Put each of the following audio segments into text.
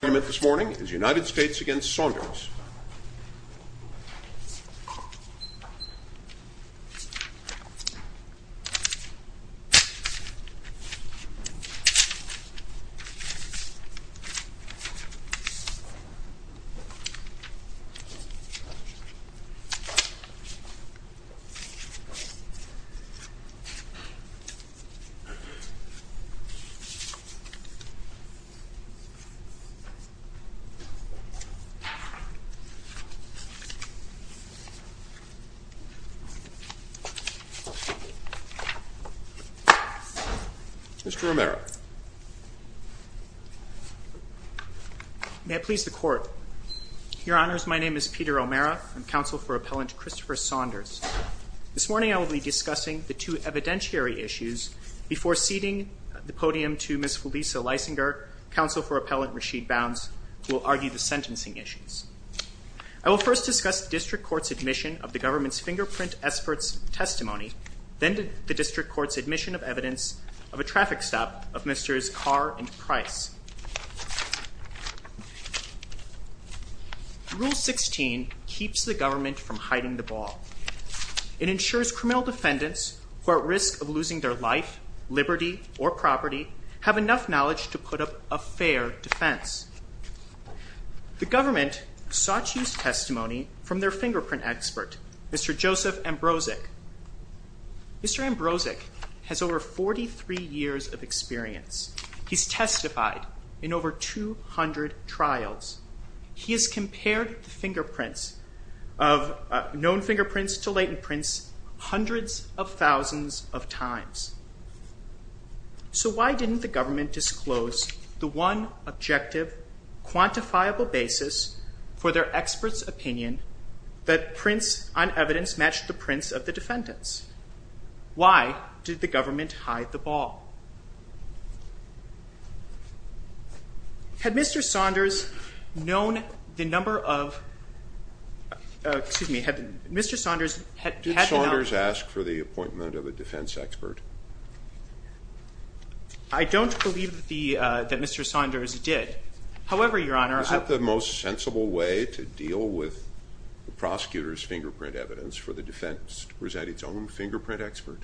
The first argument this morning is United States v. Saunders Mr. O'Mara May I please the Court? Your Honors, my name is Peter O'Mara. I'm counsel for Appellant Christopher Saunders. This morning I will be discussing the two evidentiary issues before ceding the podium to Ms. Felisa Leisinger, counsel for Appellant Rasheed Bounds, who will argue the sentencing issues. I will first discuss the District Court's admission of the government's fingerprint experts' testimony, then the District Court's admission of evidence of a traffic stop of Mr.'s car and price. Rule 16 keeps the government from hiding the ball. It ensures criminal defendants who are at risk of losing their life, liberty, or property have enough knowledge to put up a fair defense. The government sought to use testimony from their fingerprint expert, Mr. Joseph Ambrosek. Mr. Ambrosek has over 43 years of experience. He's testified in over 200 trials. He has compared known fingerprints to latent prints hundreds of thousands of times. So why didn't the government disclose the one objective quantifiable basis for their experts' opinion that prints on evidence matched the prints of the defendants? Why did the government hide the ball? Had Mr. Saunders known the number of – excuse me – had Mr. Saunders – Did Saunders ask for the appointment of a defense expert? I don't believe that Mr. Saunders did. However, Your Honor – Is that the most sensible way to deal with the prosecutor's fingerprint evidence, for the defense to present its own fingerprint expert?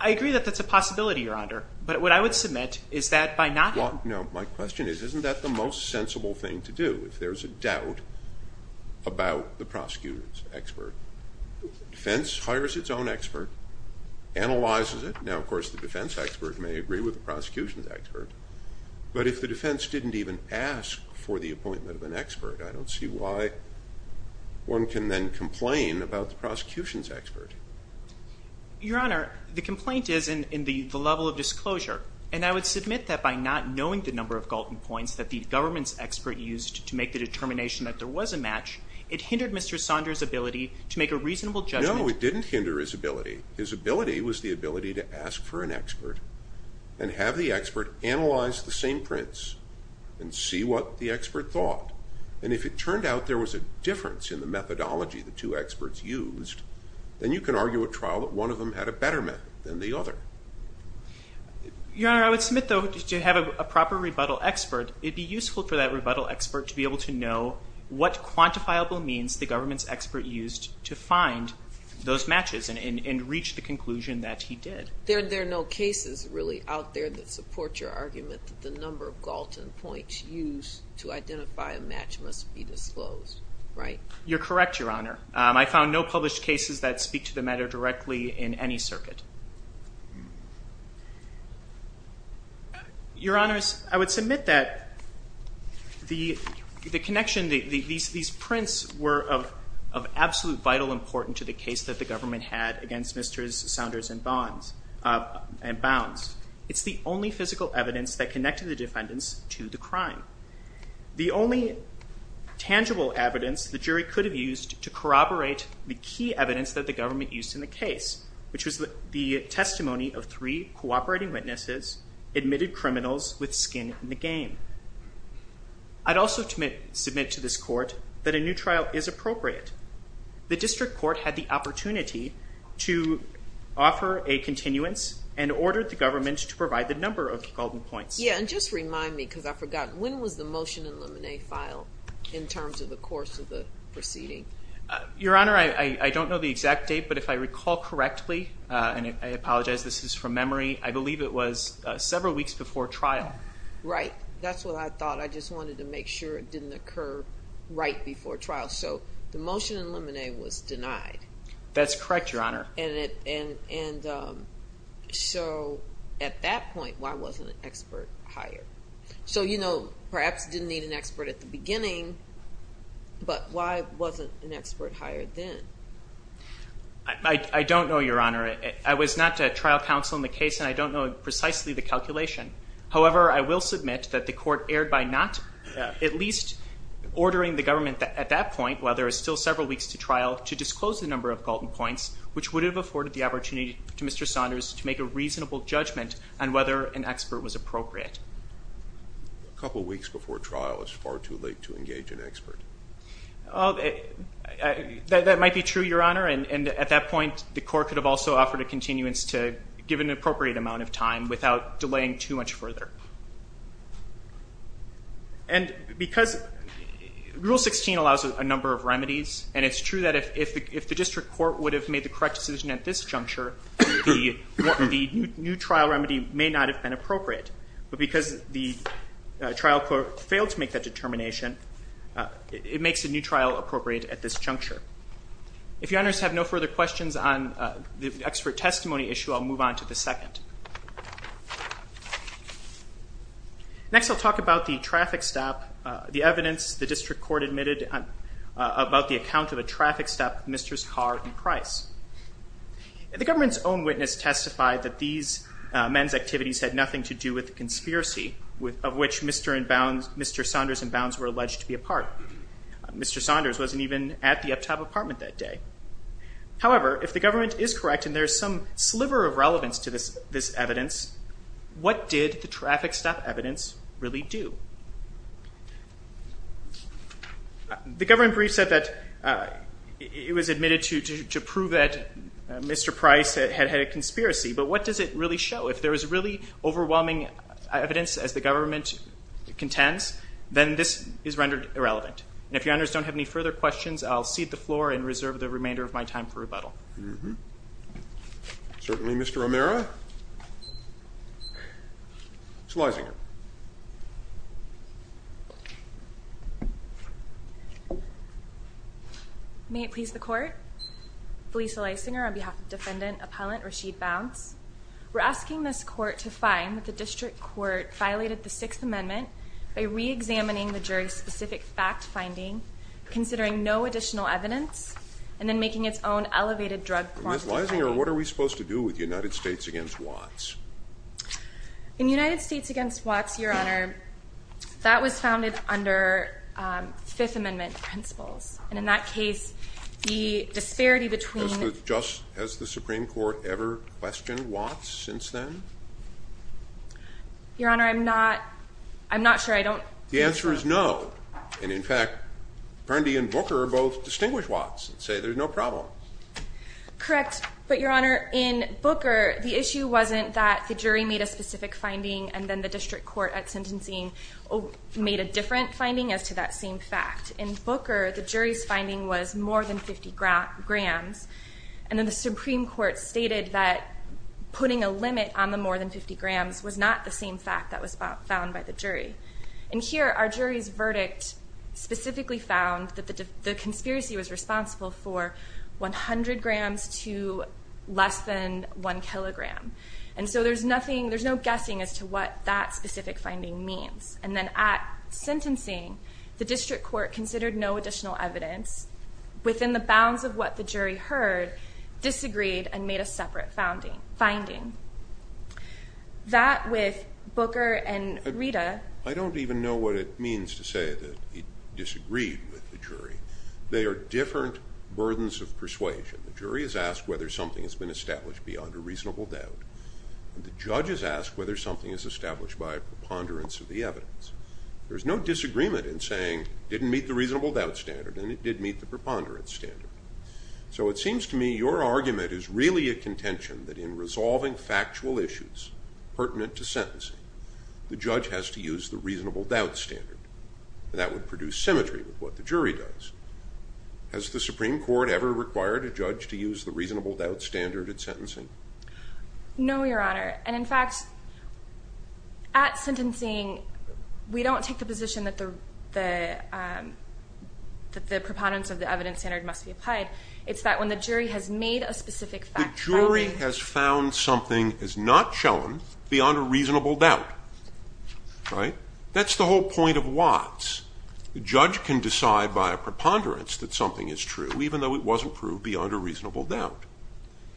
I agree that that's a possibility, Your Honor. But what I would submit is that by not – My question is, isn't that the most sensible thing to do, if there's a doubt about the prosecutor's expert? Defense hires its own expert, analyzes it. Now, of course, the defense expert may agree with the prosecution's expert. But if the defense didn't even ask for the appointment of an expert, I don't see why one can then complain about the prosecution's expert. Your Honor, the complaint is in the level of disclosure. And I would submit that by not knowing the number of Galton points that the government's expert used to make the determination that there was a match, it hindered Mr. Saunders' ability to make a reasonable judgment – No, it didn't hinder his ability. His ability was the ability to ask for an expert and have the expert analyze the same prints and see what the expert thought. And if it turned out there was a difference in the methodology the two experts used, then you can argue at trial that one of them had a better method than the other. Your Honor, I would submit, though, to have a proper rebuttal expert, it would be useful for that rebuttal expert to be able to know what quantifiable means the government's expert used to find those matches and reach the conclusion that he did. There are no cases really out there that support your argument that the number of Galton points used to identify a match must be disclosed, right? You're correct, Your Honor. I found no published cases that speak to the matter directly in any circuit. Your Honors, I would submit that the connection – these prints were of absolute vital importance to the case that the government had against Mr. Saunders and Bounds. It's the only physical evidence that connected the defendants to the crime. The only tangible evidence the jury could have used to corroborate the key evidence that the government used in the case, which was the testimony of three cooperating witnesses admitted criminals with skin in the game. I'd also submit to this court that a new trial is appropriate. The district court had the opportunity to offer a continuance and ordered the government to provide the number of Galton points. Yeah, and just remind me, because I've forgotten, when was the motion in the file in terms of the course of the proceeding? Your Honor, I don't know the exact date, but if I recall correctly, and I apologize, this is from memory, I believe it was several weeks before trial. Right. That's what I thought. I just wanted to make sure it didn't occur right before trial. So the motion in Lemonet was denied. That's correct, Your Honor. And so at that point, why wasn't an expert hired? So you know, perhaps didn't need an expert at the beginning, but why wasn't an expert hired then? I don't know, Your Honor. I was not a trial counsel in the case, and I don't know precisely the calculation. However, I will submit that the court erred by not at least ordering the government at that point, while there are still several weeks to trial, to disclose the number of Galton points, which would have afforded the opportunity to Mr. Saunders to make a reasonable judgment on whether an expert was appropriate. A couple weeks before trial is far too late to engage an expert. That might be true, Your Honor. And at that point, the court could have also offered a continuance to give an appropriate amount of time without delaying too much further. And because Rule 16 allows a number of remedies, and it's true that if the district court would have made the correct decision at this juncture, the new trial remedy may not have been appropriate. But because the trial court failed to make that determination, it makes the new trial appropriate at this juncture. If Your Honors have no further questions on the expert testimony issue, I'll move on to the second. Next, I'll talk about the traffic stop, the evidence the district court admitted about the account of a traffic stop with Mr.'s car in Price. The government's own witness testified that these men's activities had nothing to do with the conspiracy of which Mr. Saunders and Bounds were alleged to be a part. Mr. Saunders wasn't even at the uptop apartment that day. However, if the government is correct and there's some sliver of relevance to this evidence, what did the traffic stop evidence really do? The government brief said that it was admitted to prove that Mr. Price had had a conspiracy, but what does it really show? If there is really overwhelming evidence as the government contends, then this is rendered irrelevant. And if Your Honors don't have any further questions, I'll cede the floor and reserve the remainder of my time for rebuttal. Certainly, Mr. O'Meara. Felicia Leisinger. May it please the Court, Felicia Leisinger on behalf of Defendant Appellant Rashid Bounds. We're asking this Court to find that the district court violated the Sixth Amendment by re-examining the jury's specific fact-finding, considering no additional evidence, and then making its own elevated drug quantity finding. Ms. Leisinger, what are we supposed to do with United States v. Watts? In United States v. Watts, Your Honor, that was founded under Fifth Amendment principles. And in that case, the disparity between... Has the Supreme Court ever questioned Watts since then? Your Honor, I'm not sure I don't... The answer is no. And in fact, Burndy and Booker both distinguish Watts and say there's no problem. Correct. But, Your Honor, in Booker, the issue wasn't that the jury made a specific finding and then the district court at sentencing made a different finding as to that same fact. In Booker, the jury's finding was more than 50 grams. And then the Supreme Court stated that putting a limit on the more than 50 grams was not the same fact that was found by the jury. And here, our jury's verdict specifically found that the conspiracy was responsible for 100 grams to less than 1 kilogram. And so there's no guessing as to what that specific finding means. And then at sentencing, the district court considered no additional evidence within the bounds of what the jury heard, disagreed, and made a separate finding. That, with Booker and Rita... I don't even know what it means to say that he disagreed with the jury. They are different burdens of persuasion. The jury is asked whether something has been established beyond a reasonable doubt. And the judge is asked whether something is established by a preponderance of the evidence. There's no disagreement in saying it didn't meet the reasonable doubt standard and it did meet the preponderance standard. So it seems to me your argument is really a contention that in resolving factual issues pertinent to sentencing, the judge has to use the reasonable doubt standard. That would produce symmetry with what the jury does. Has the Supreme Court ever required a judge to use the reasonable doubt standard at sentencing? No, Your Honor. And in fact, at sentencing, we don't take the position that the preponderance of the evidence standard must be applied. It's that when the jury has made a specific fact finding... The jury has found something is not shown beyond a reasonable doubt. That's the whole point of Watts. The judge can decide by a preponderance that something is true, even though it wasn't proved beyond a reasonable doubt.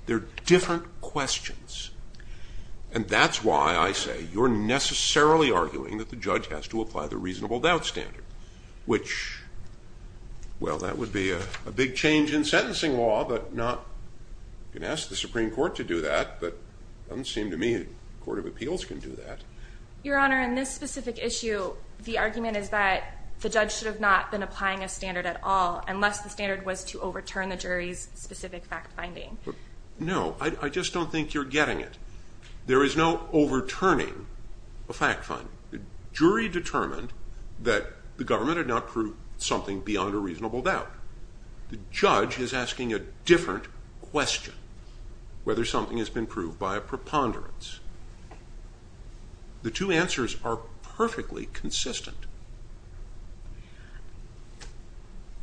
They're different questions. And that's why I say you're necessarily arguing that the judge has to apply the reasonable doubt standard, which, well, that would be a big change in sentencing law, but not... You can ask the Supreme Court to do that, but it doesn't seem to me the Court of Appeals can do that. Your Honor, in this specific issue, the argument is that the judge should have not been applying a standard at all unless the standard was to overturn the jury's specific fact finding. No, I just don't think you're getting it. There is no overturning a fact finding. The jury determined that the government had not proved something beyond a reasonable doubt. The judge is asking a different question, whether something has been proved by a preponderance. The two answers are perfectly consistent.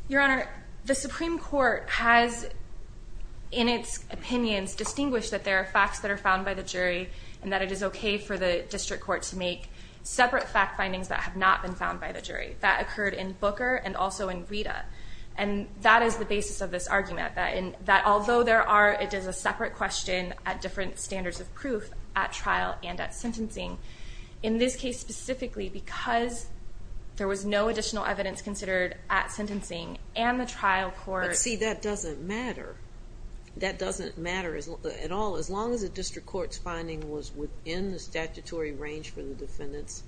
Your Honor, the Supreme Court has, in its opinions, distinguished that there are facts that are found by the jury and that it is okay for the district court to make separate fact findings that have not been found by the jury. That occurred in Booker and also in Rita. And that is the basis of this argument, that although there are... It is a separate question at different standards of proof at trial and at sentencing. In this case specifically, because there was no additional evidence considered at sentencing and the trial court... But see, that doesn't matter. That doesn't matter at all, as long as the district court's finding was within the statutory range for the defendant's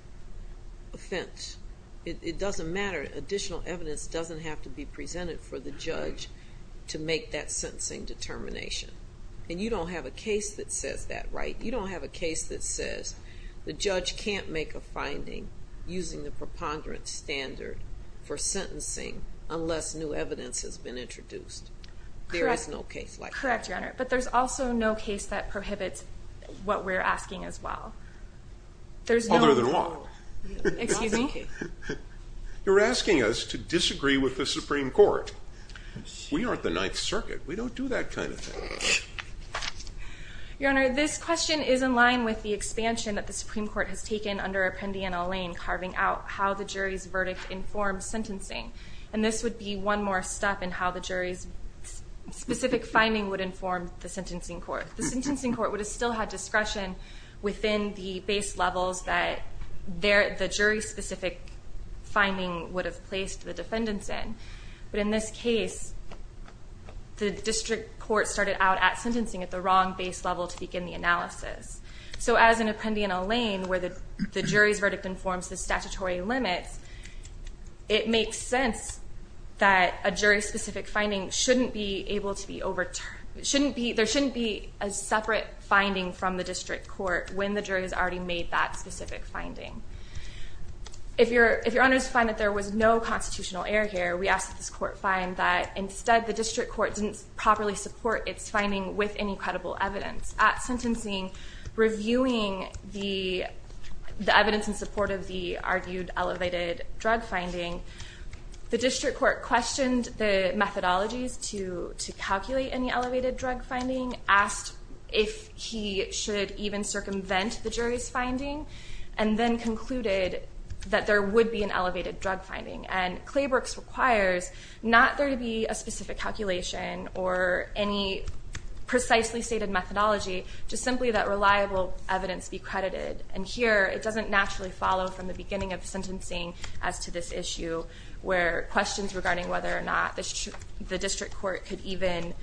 offense. It doesn't matter. Additional evidence doesn't have to be presented for the judge to make that sentencing determination. And you don't have a case that says that, right? You don't have a case that says the judge can't make a finding using the preponderance standard for sentencing unless new evidence has been introduced. Correct. There is no case like that. Correct, Your Honor. But there's also no case that prohibits what we're asking as well. Other than what? Excuse me? You're asking us to disagree with the Supreme Court. We aren't the Ninth Circuit. We don't do that kind of thing. Your Honor, this question is in line with the expansion that the Supreme Court has taken under Appendiana Lane, carving out how the jury's verdict informed sentencing. And this would be one more step in how the jury's specific finding would inform the sentencing court. The sentencing court would have still had discretion within the base levels that the jury's specific finding would have placed the defendants in. But in this case, the district court started out at sentencing at the wrong base level to begin the analysis. So as in Appendiana Lane, where the jury's verdict informs the statutory limits, it makes sense that a jury's specific finding shouldn't be able to be overturned. There shouldn't be a separate finding from the district court when the jury has already made that specific finding. If your honors find that there was no constitutional error here, we ask that this court find that instead the district court didn't properly support its finding with any credible evidence. At sentencing, reviewing the evidence in support of the argued elevated drug finding, the district court questioned the methodologies to calculate any elevated drug finding, asked if he should even circumvent the jury's finding, and then concluded that there would be an elevated drug finding. And Claybrook's requires not there to be a specific calculation or any precisely stated methodology, just simply that reliable evidence be credited. And here, it doesn't naturally follow from the beginning of sentencing as to this issue, where questions regarding whether or not the district court could even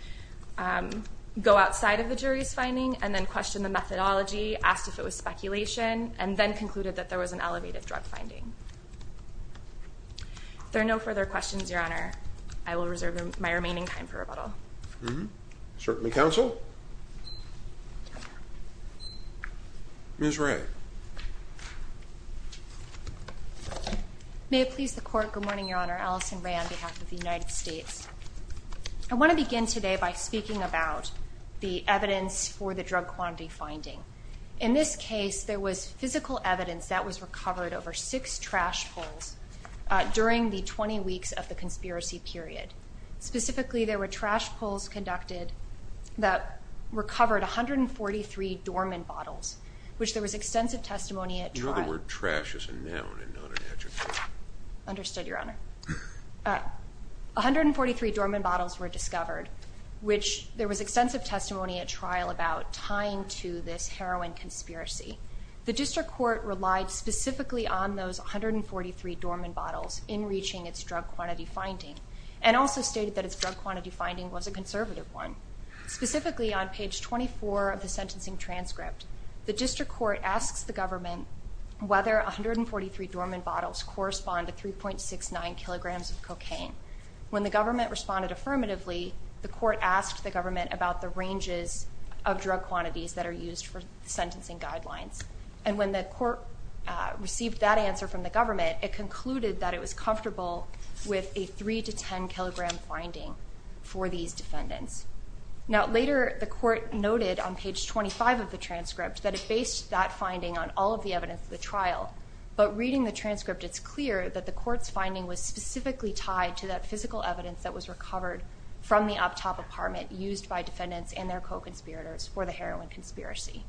go outside of the jury's finding, and then question the methodology, ask if it was speculation, and then concluded that there was an elevated drug finding. There are no further questions, your honor. I will reserve my remaining time for rebuttal. Certainly, counsel. Ms. Ray. May it please the court. Good morning, your honor. Allison Ray on behalf of the United States. I want to begin today by speaking about the evidence for the drug quantity finding. In this case, there was physical evidence that was recovered over six trash pulls during the 20 weeks of the conspiracy period. Specifically, there were trash pulls conducted that recovered 143 Dorman bottles, which there was extensive testimony at trial. You know the word trash is a noun and not an adjective. Understood, your honor. 143 Dorman bottles were discovered, which there was extensive testimony at trial about tying to this heroin conspiracy. The district court relied specifically on those 143 Dorman bottles in reaching its drug quantity finding, and also stated that its drug quantity finding was a conservative one. Specifically, on page 24 of the sentencing transcript, the district court asks the government whether 143 Dorman bottles correspond to 3.69 kilograms of cocaine. When the government responded affirmatively, the court asked the government about the ranges of drug quantities that are used for sentencing guidelines. And when the court received that answer from the government, it concluded that it was comfortable with a 3 to 10 kilogram finding for these defendants. Now, later, the court noted on page 25 of the transcript that it based that finding on all of the evidence of the trial. But reading the transcript, it's clear that the court's finding was specifically tied to that physical evidence that was recovered from the up-top apartment used by defendants and their co-conspirators for the heroin conspiracy.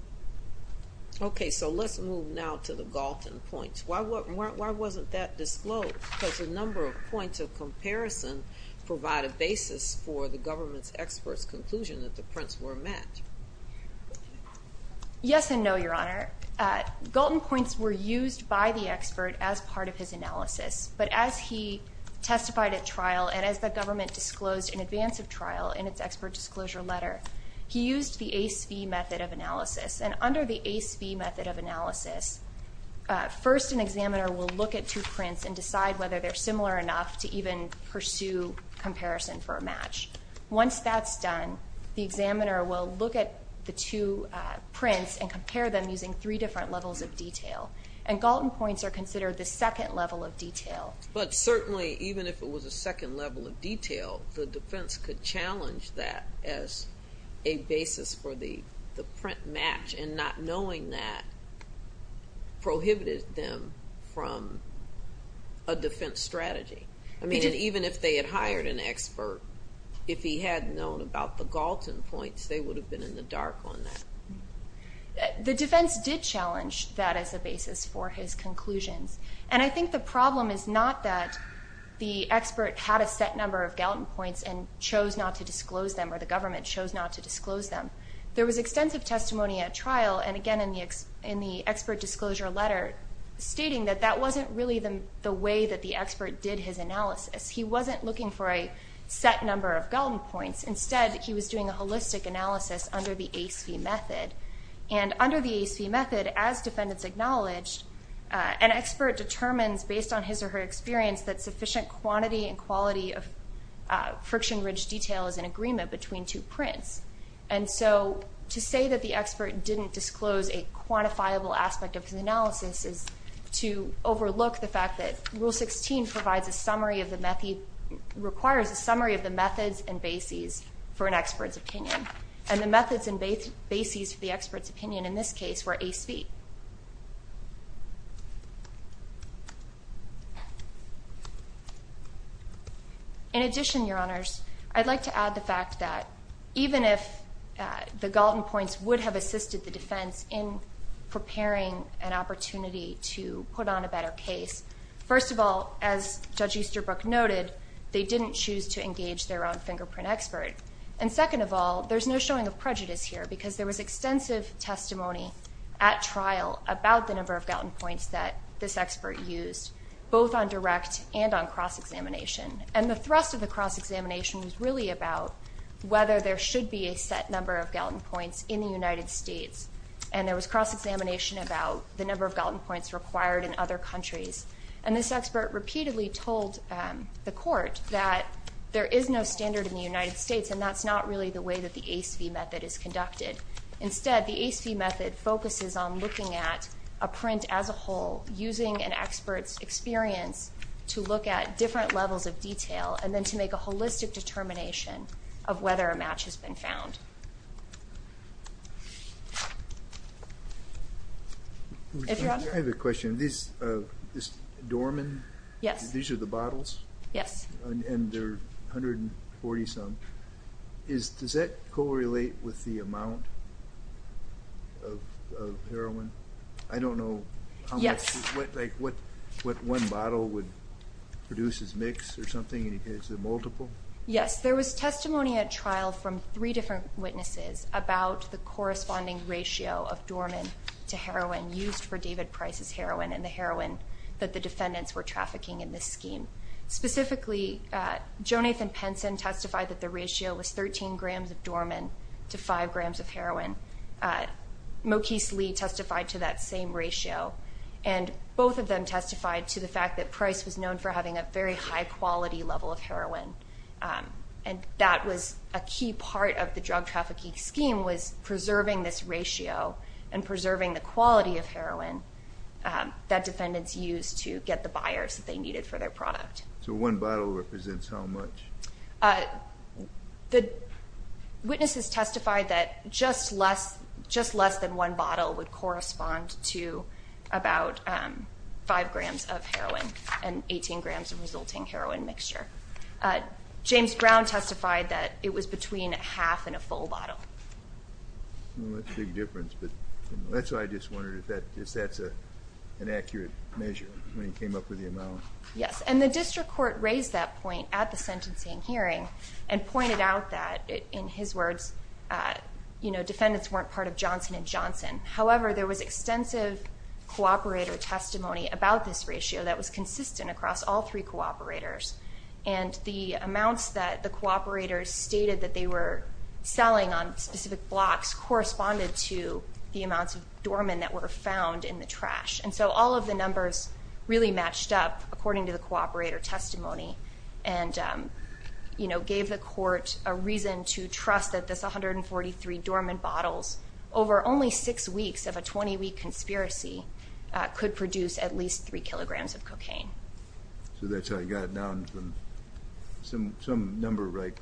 Okay, so let's move now to the Galton points. Why wasn't that disclosed? Because a number of points of comparison provide a basis for the government's expert's conclusion that the prints were met. Yes and no, Your Honor. Galton points were used by the expert as part of his analysis, but as he testified at trial and as the government disclosed in advance of trial in its expert disclosure letter, he used the ACE-V method of analysis. And under the ACE-V method of analysis, first an examiner will look at two prints and decide whether they're similar enough to even pursue comparison for a match. Once that's done, the examiner will look at the two prints and compare them using three different levels of detail. And Galton points are considered the second level of detail. But certainly, even if it was a second level of detail, the defense could challenge that as a basis for the print match and not knowing that prohibited them from a defense strategy. I mean, even if they had hired an expert, if he had known about the Galton points, they would have been in the dark on that. The defense did challenge that as a basis for his conclusions. And I think the problem is not that the expert had a set number of Galton points and chose not to disclose them or the government chose not to disclose them. There was extensive testimony at trial and, again, in the expert disclosure letter, stating that that wasn't really the way that the expert did his analysis. He wasn't looking for a set number of Galton points. Instead, he was doing a holistic analysis under the ACE-V method. And under the ACE-V method, as defendants acknowledged, an expert determines based on his or her experience that sufficient quantity and quality of friction-ridged detail is in agreement between two prints. And so to say that the expert didn't disclose a quantifiable aspect of his analysis is to overlook the fact that Rule 16 requires a summary of the methods and bases for an expert's opinion. And the methods and bases for the expert's opinion in this case were ACE-V. In addition, Your Honors, I'd like to add the fact that even if the Galton points would have assisted the defense in preparing an opportunity to put on a better case, first of all, as Judge Easterbrook noted, they didn't choose to engage their own fingerprint expert. And second of all, there's no showing of prejudice here because there was extensive testimony at trial about the number of Galton points that this expert used, both on direct and on cross-examination. And the thrust of the cross-examination was really about whether there should be a set number of Galton points in the United States. And there was cross-examination about the number of Galton points required in other countries. And this expert repeatedly told the court that there is no standard in the United States and that's not really the way that the ACE-V method is conducted. Instead, the ACE-V method focuses on looking at a print as a whole, using an expert's experience to look at different levels of detail and then to make a holistic determination of whether a match has been found. I have a question. This Dorman? Yes. These are the bottles? Yes. And they're 140-some. Does that correlate with the amount of heroin? I don't know how much. Yes. Like what one bottle would produce as mix or something? Is it multiple? Yes. There was testimony at trial from three different witnesses about the corresponding ratio of Dorman to heroin used for David Price's heroin and the heroin that the defendants were trafficking in this scheme. Specifically, Jonathan Penson testified that the ratio was 13 grams of Dorman to 5 grams of heroin. Mokese Lee testified to that same ratio. And both of them testified to the fact that Price was known for having a very high-quality level of heroin. And that was a key part of the drug trafficking scheme was preserving this ratio and preserving the quality of heroin that defendants used to get the buyers that they needed for their product. So one bottle represents how much? The witnesses testified that just less than one bottle would correspond to about 5 grams of heroin and 18 grams of resulting heroin mixture. James Brown testified that it was between half and a full bottle. That's a big difference. That's why I just wondered if that's an accurate measure when he came up with the amount. Yes. And the district court raised that point at the sentencing hearing and pointed out that, in his words, defendants weren't part of Johnson & Johnson. However, there was extensive cooperator testimony about this ratio that was consistent across all three cooperators. And the amounts that the cooperators stated that they were selling on specific blocks corresponded to the amounts of Dorman that were found in the trash. And so all of the numbers really matched up, according to the cooperator testimony, and gave the court a reason to trust that this 143 Dorman bottles, over only six weeks of a 20-week conspiracy, could produce at least 3 kilograms of cocaine. So that's how you got down from some number like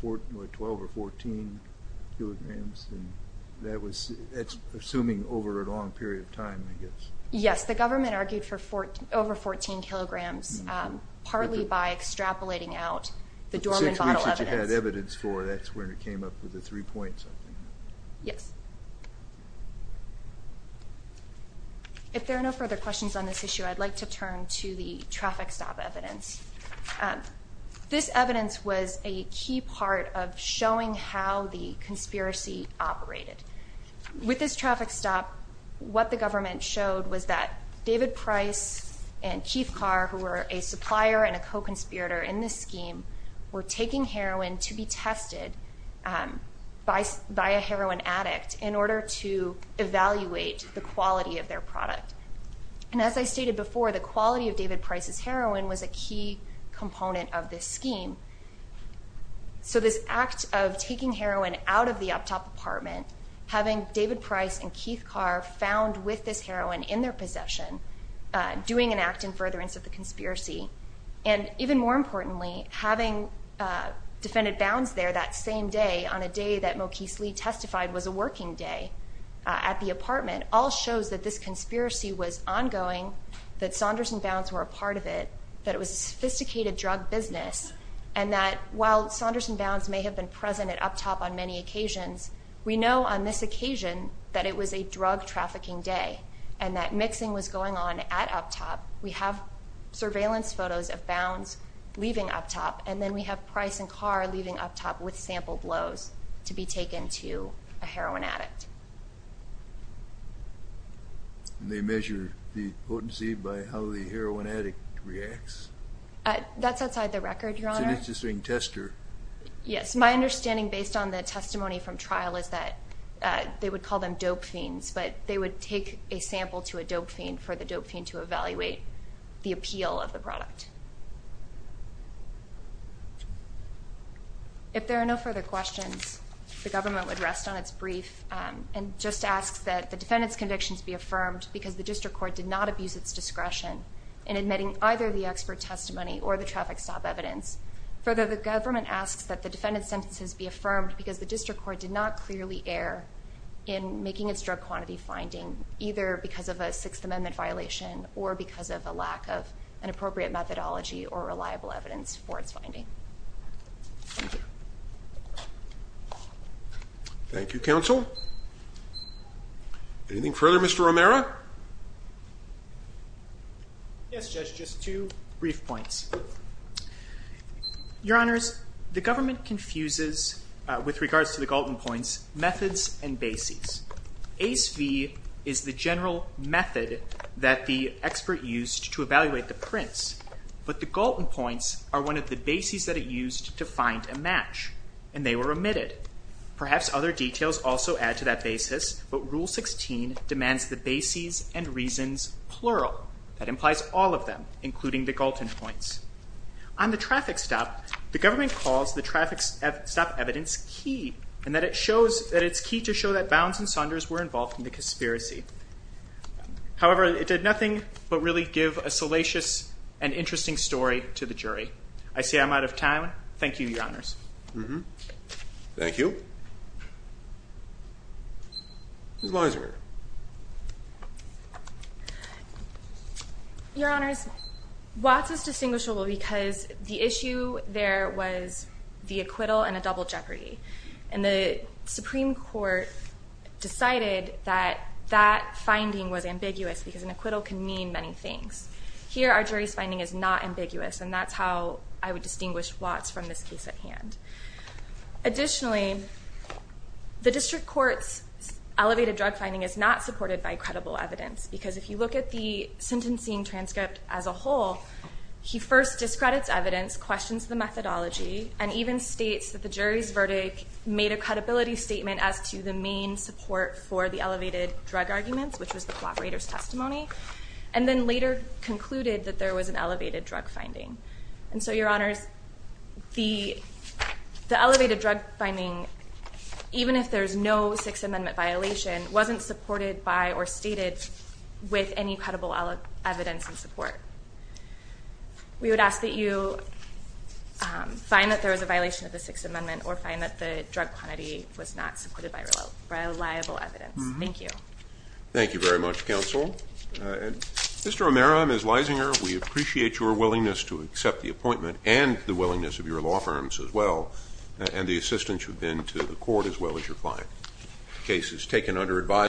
12 or 14 kilograms? That's assuming over a long period of time, I guess. Yes. The government argued for over 14 kilograms partly by extrapolating out the Dorman bottle evidence. If you had evidence for it, that's when it came up with the three-point something. Yes. If there are no further questions on this issue, I'd like to turn to the traffic stop evidence. This evidence was a key part of showing how the conspiracy operated. With this traffic stop, what the government showed was that David Price and Keith Carr, who were a supplier and a co-conspirator in this scheme, were taking heroin to be tested by a heroin addict in order to evaluate the quality of their product. And as I stated before, the quality of David Price's heroin was a key component of this scheme. So this act of taking heroin out of the up-top apartment, having David Price and Keith Carr found with this heroin in their possession, doing an act in furtherance of the conspiracy, and even more importantly, having defendant Bounds there that same day, on a day that Mokese Lee testified was a working day at the apartment, all shows that this conspiracy was ongoing, that Saunders and Bounds were a part of it, that it was a sophisticated drug business, and that while Saunders and Bounds may have been present at up-top on many occasions, we know on this occasion that it was a drug trafficking day and that mixing was going on at up-top. We have surveillance photos of Bounds leaving up-top, and then we have Price and Carr leaving up-top with sample blows to be taken to a heroin addict. And they measure the potency by how the heroin addict reacts? That's outside the record, Your Honor. It's an interesting tester. Yes. My understanding based on the testimony from trial is that they would call them dope fiends, but they would take a sample to a dope fiend for the dope fiend to evaluate the appeal of the product. If there are no further questions, the government would rest on its brief and just ask that the defendant's convictions be affirmed because the district court did not abuse its discretion in admitting either the expert testimony or the traffic stop evidence. Further, the government asks that the defendant's sentences be affirmed because the district court did not clearly err in making its drug quantity finding, either because of a Sixth Amendment violation or because of a lack of an appropriate methodology or reliable evidence for its finding. Thank you, counsel. Anything further, Mr. Romero? Yes, Judge, just two brief points. Your Honors, the government confuses, with regards to the Galton points, methods and bases. Ace v. is the general method that the expert used to evaluate the prints, but the Galton points are one of the bases that it used to find a match, and they were omitted. Perhaps other details also add to that basis, but Rule 16 demands the bases and reasons plural. That implies all of them, including the Galton points. On the traffic stop, the government calls the traffic stop evidence key and that it's key to show that Bounds and Saunders were involved in the conspiracy. However, it did nothing but really give a salacious and interesting story to the jury. I say I'm out of time. Thank you, Your Honors. Thank you. Ms. Leiser. Your Honors, Watts is distinguishable because the issue there was the acquittal and a double jeopardy. And the Supreme Court decided that that finding was ambiguous because an acquittal can mean many things. Here, our jury's finding is not ambiguous, and that's how I would distinguish Watts from this case at hand. Additionally, the District Court's elevated drug finding is not supported by credible evidence, because if you look at the sentencing transcript as a whole, he first discredits evidence, questions the methodology, and even states that the jury's verdict made a credibility statement as to the main support for the elevated drug arguments, which was the cooperator's testimony, and then later concluded that there was an elevated drug finding. And so, Your Honors, the elevated drug finding, even if there's no Sixth Amendment violation, wasn't supported by or stated with any credible evidence and support. We would ask that you find that there was a violation of the Sixth Amendment or find that the drug quantity was not supported by reliable evidence. Thank you. Thank you very much, Counsel. Mr. O'Mara, Ms. Leisinger, we appreciate your willingness to accept the appointment and the willingness of your law firms as well, and the assistance you've been to the court as well as your client. The case is taken under advisory.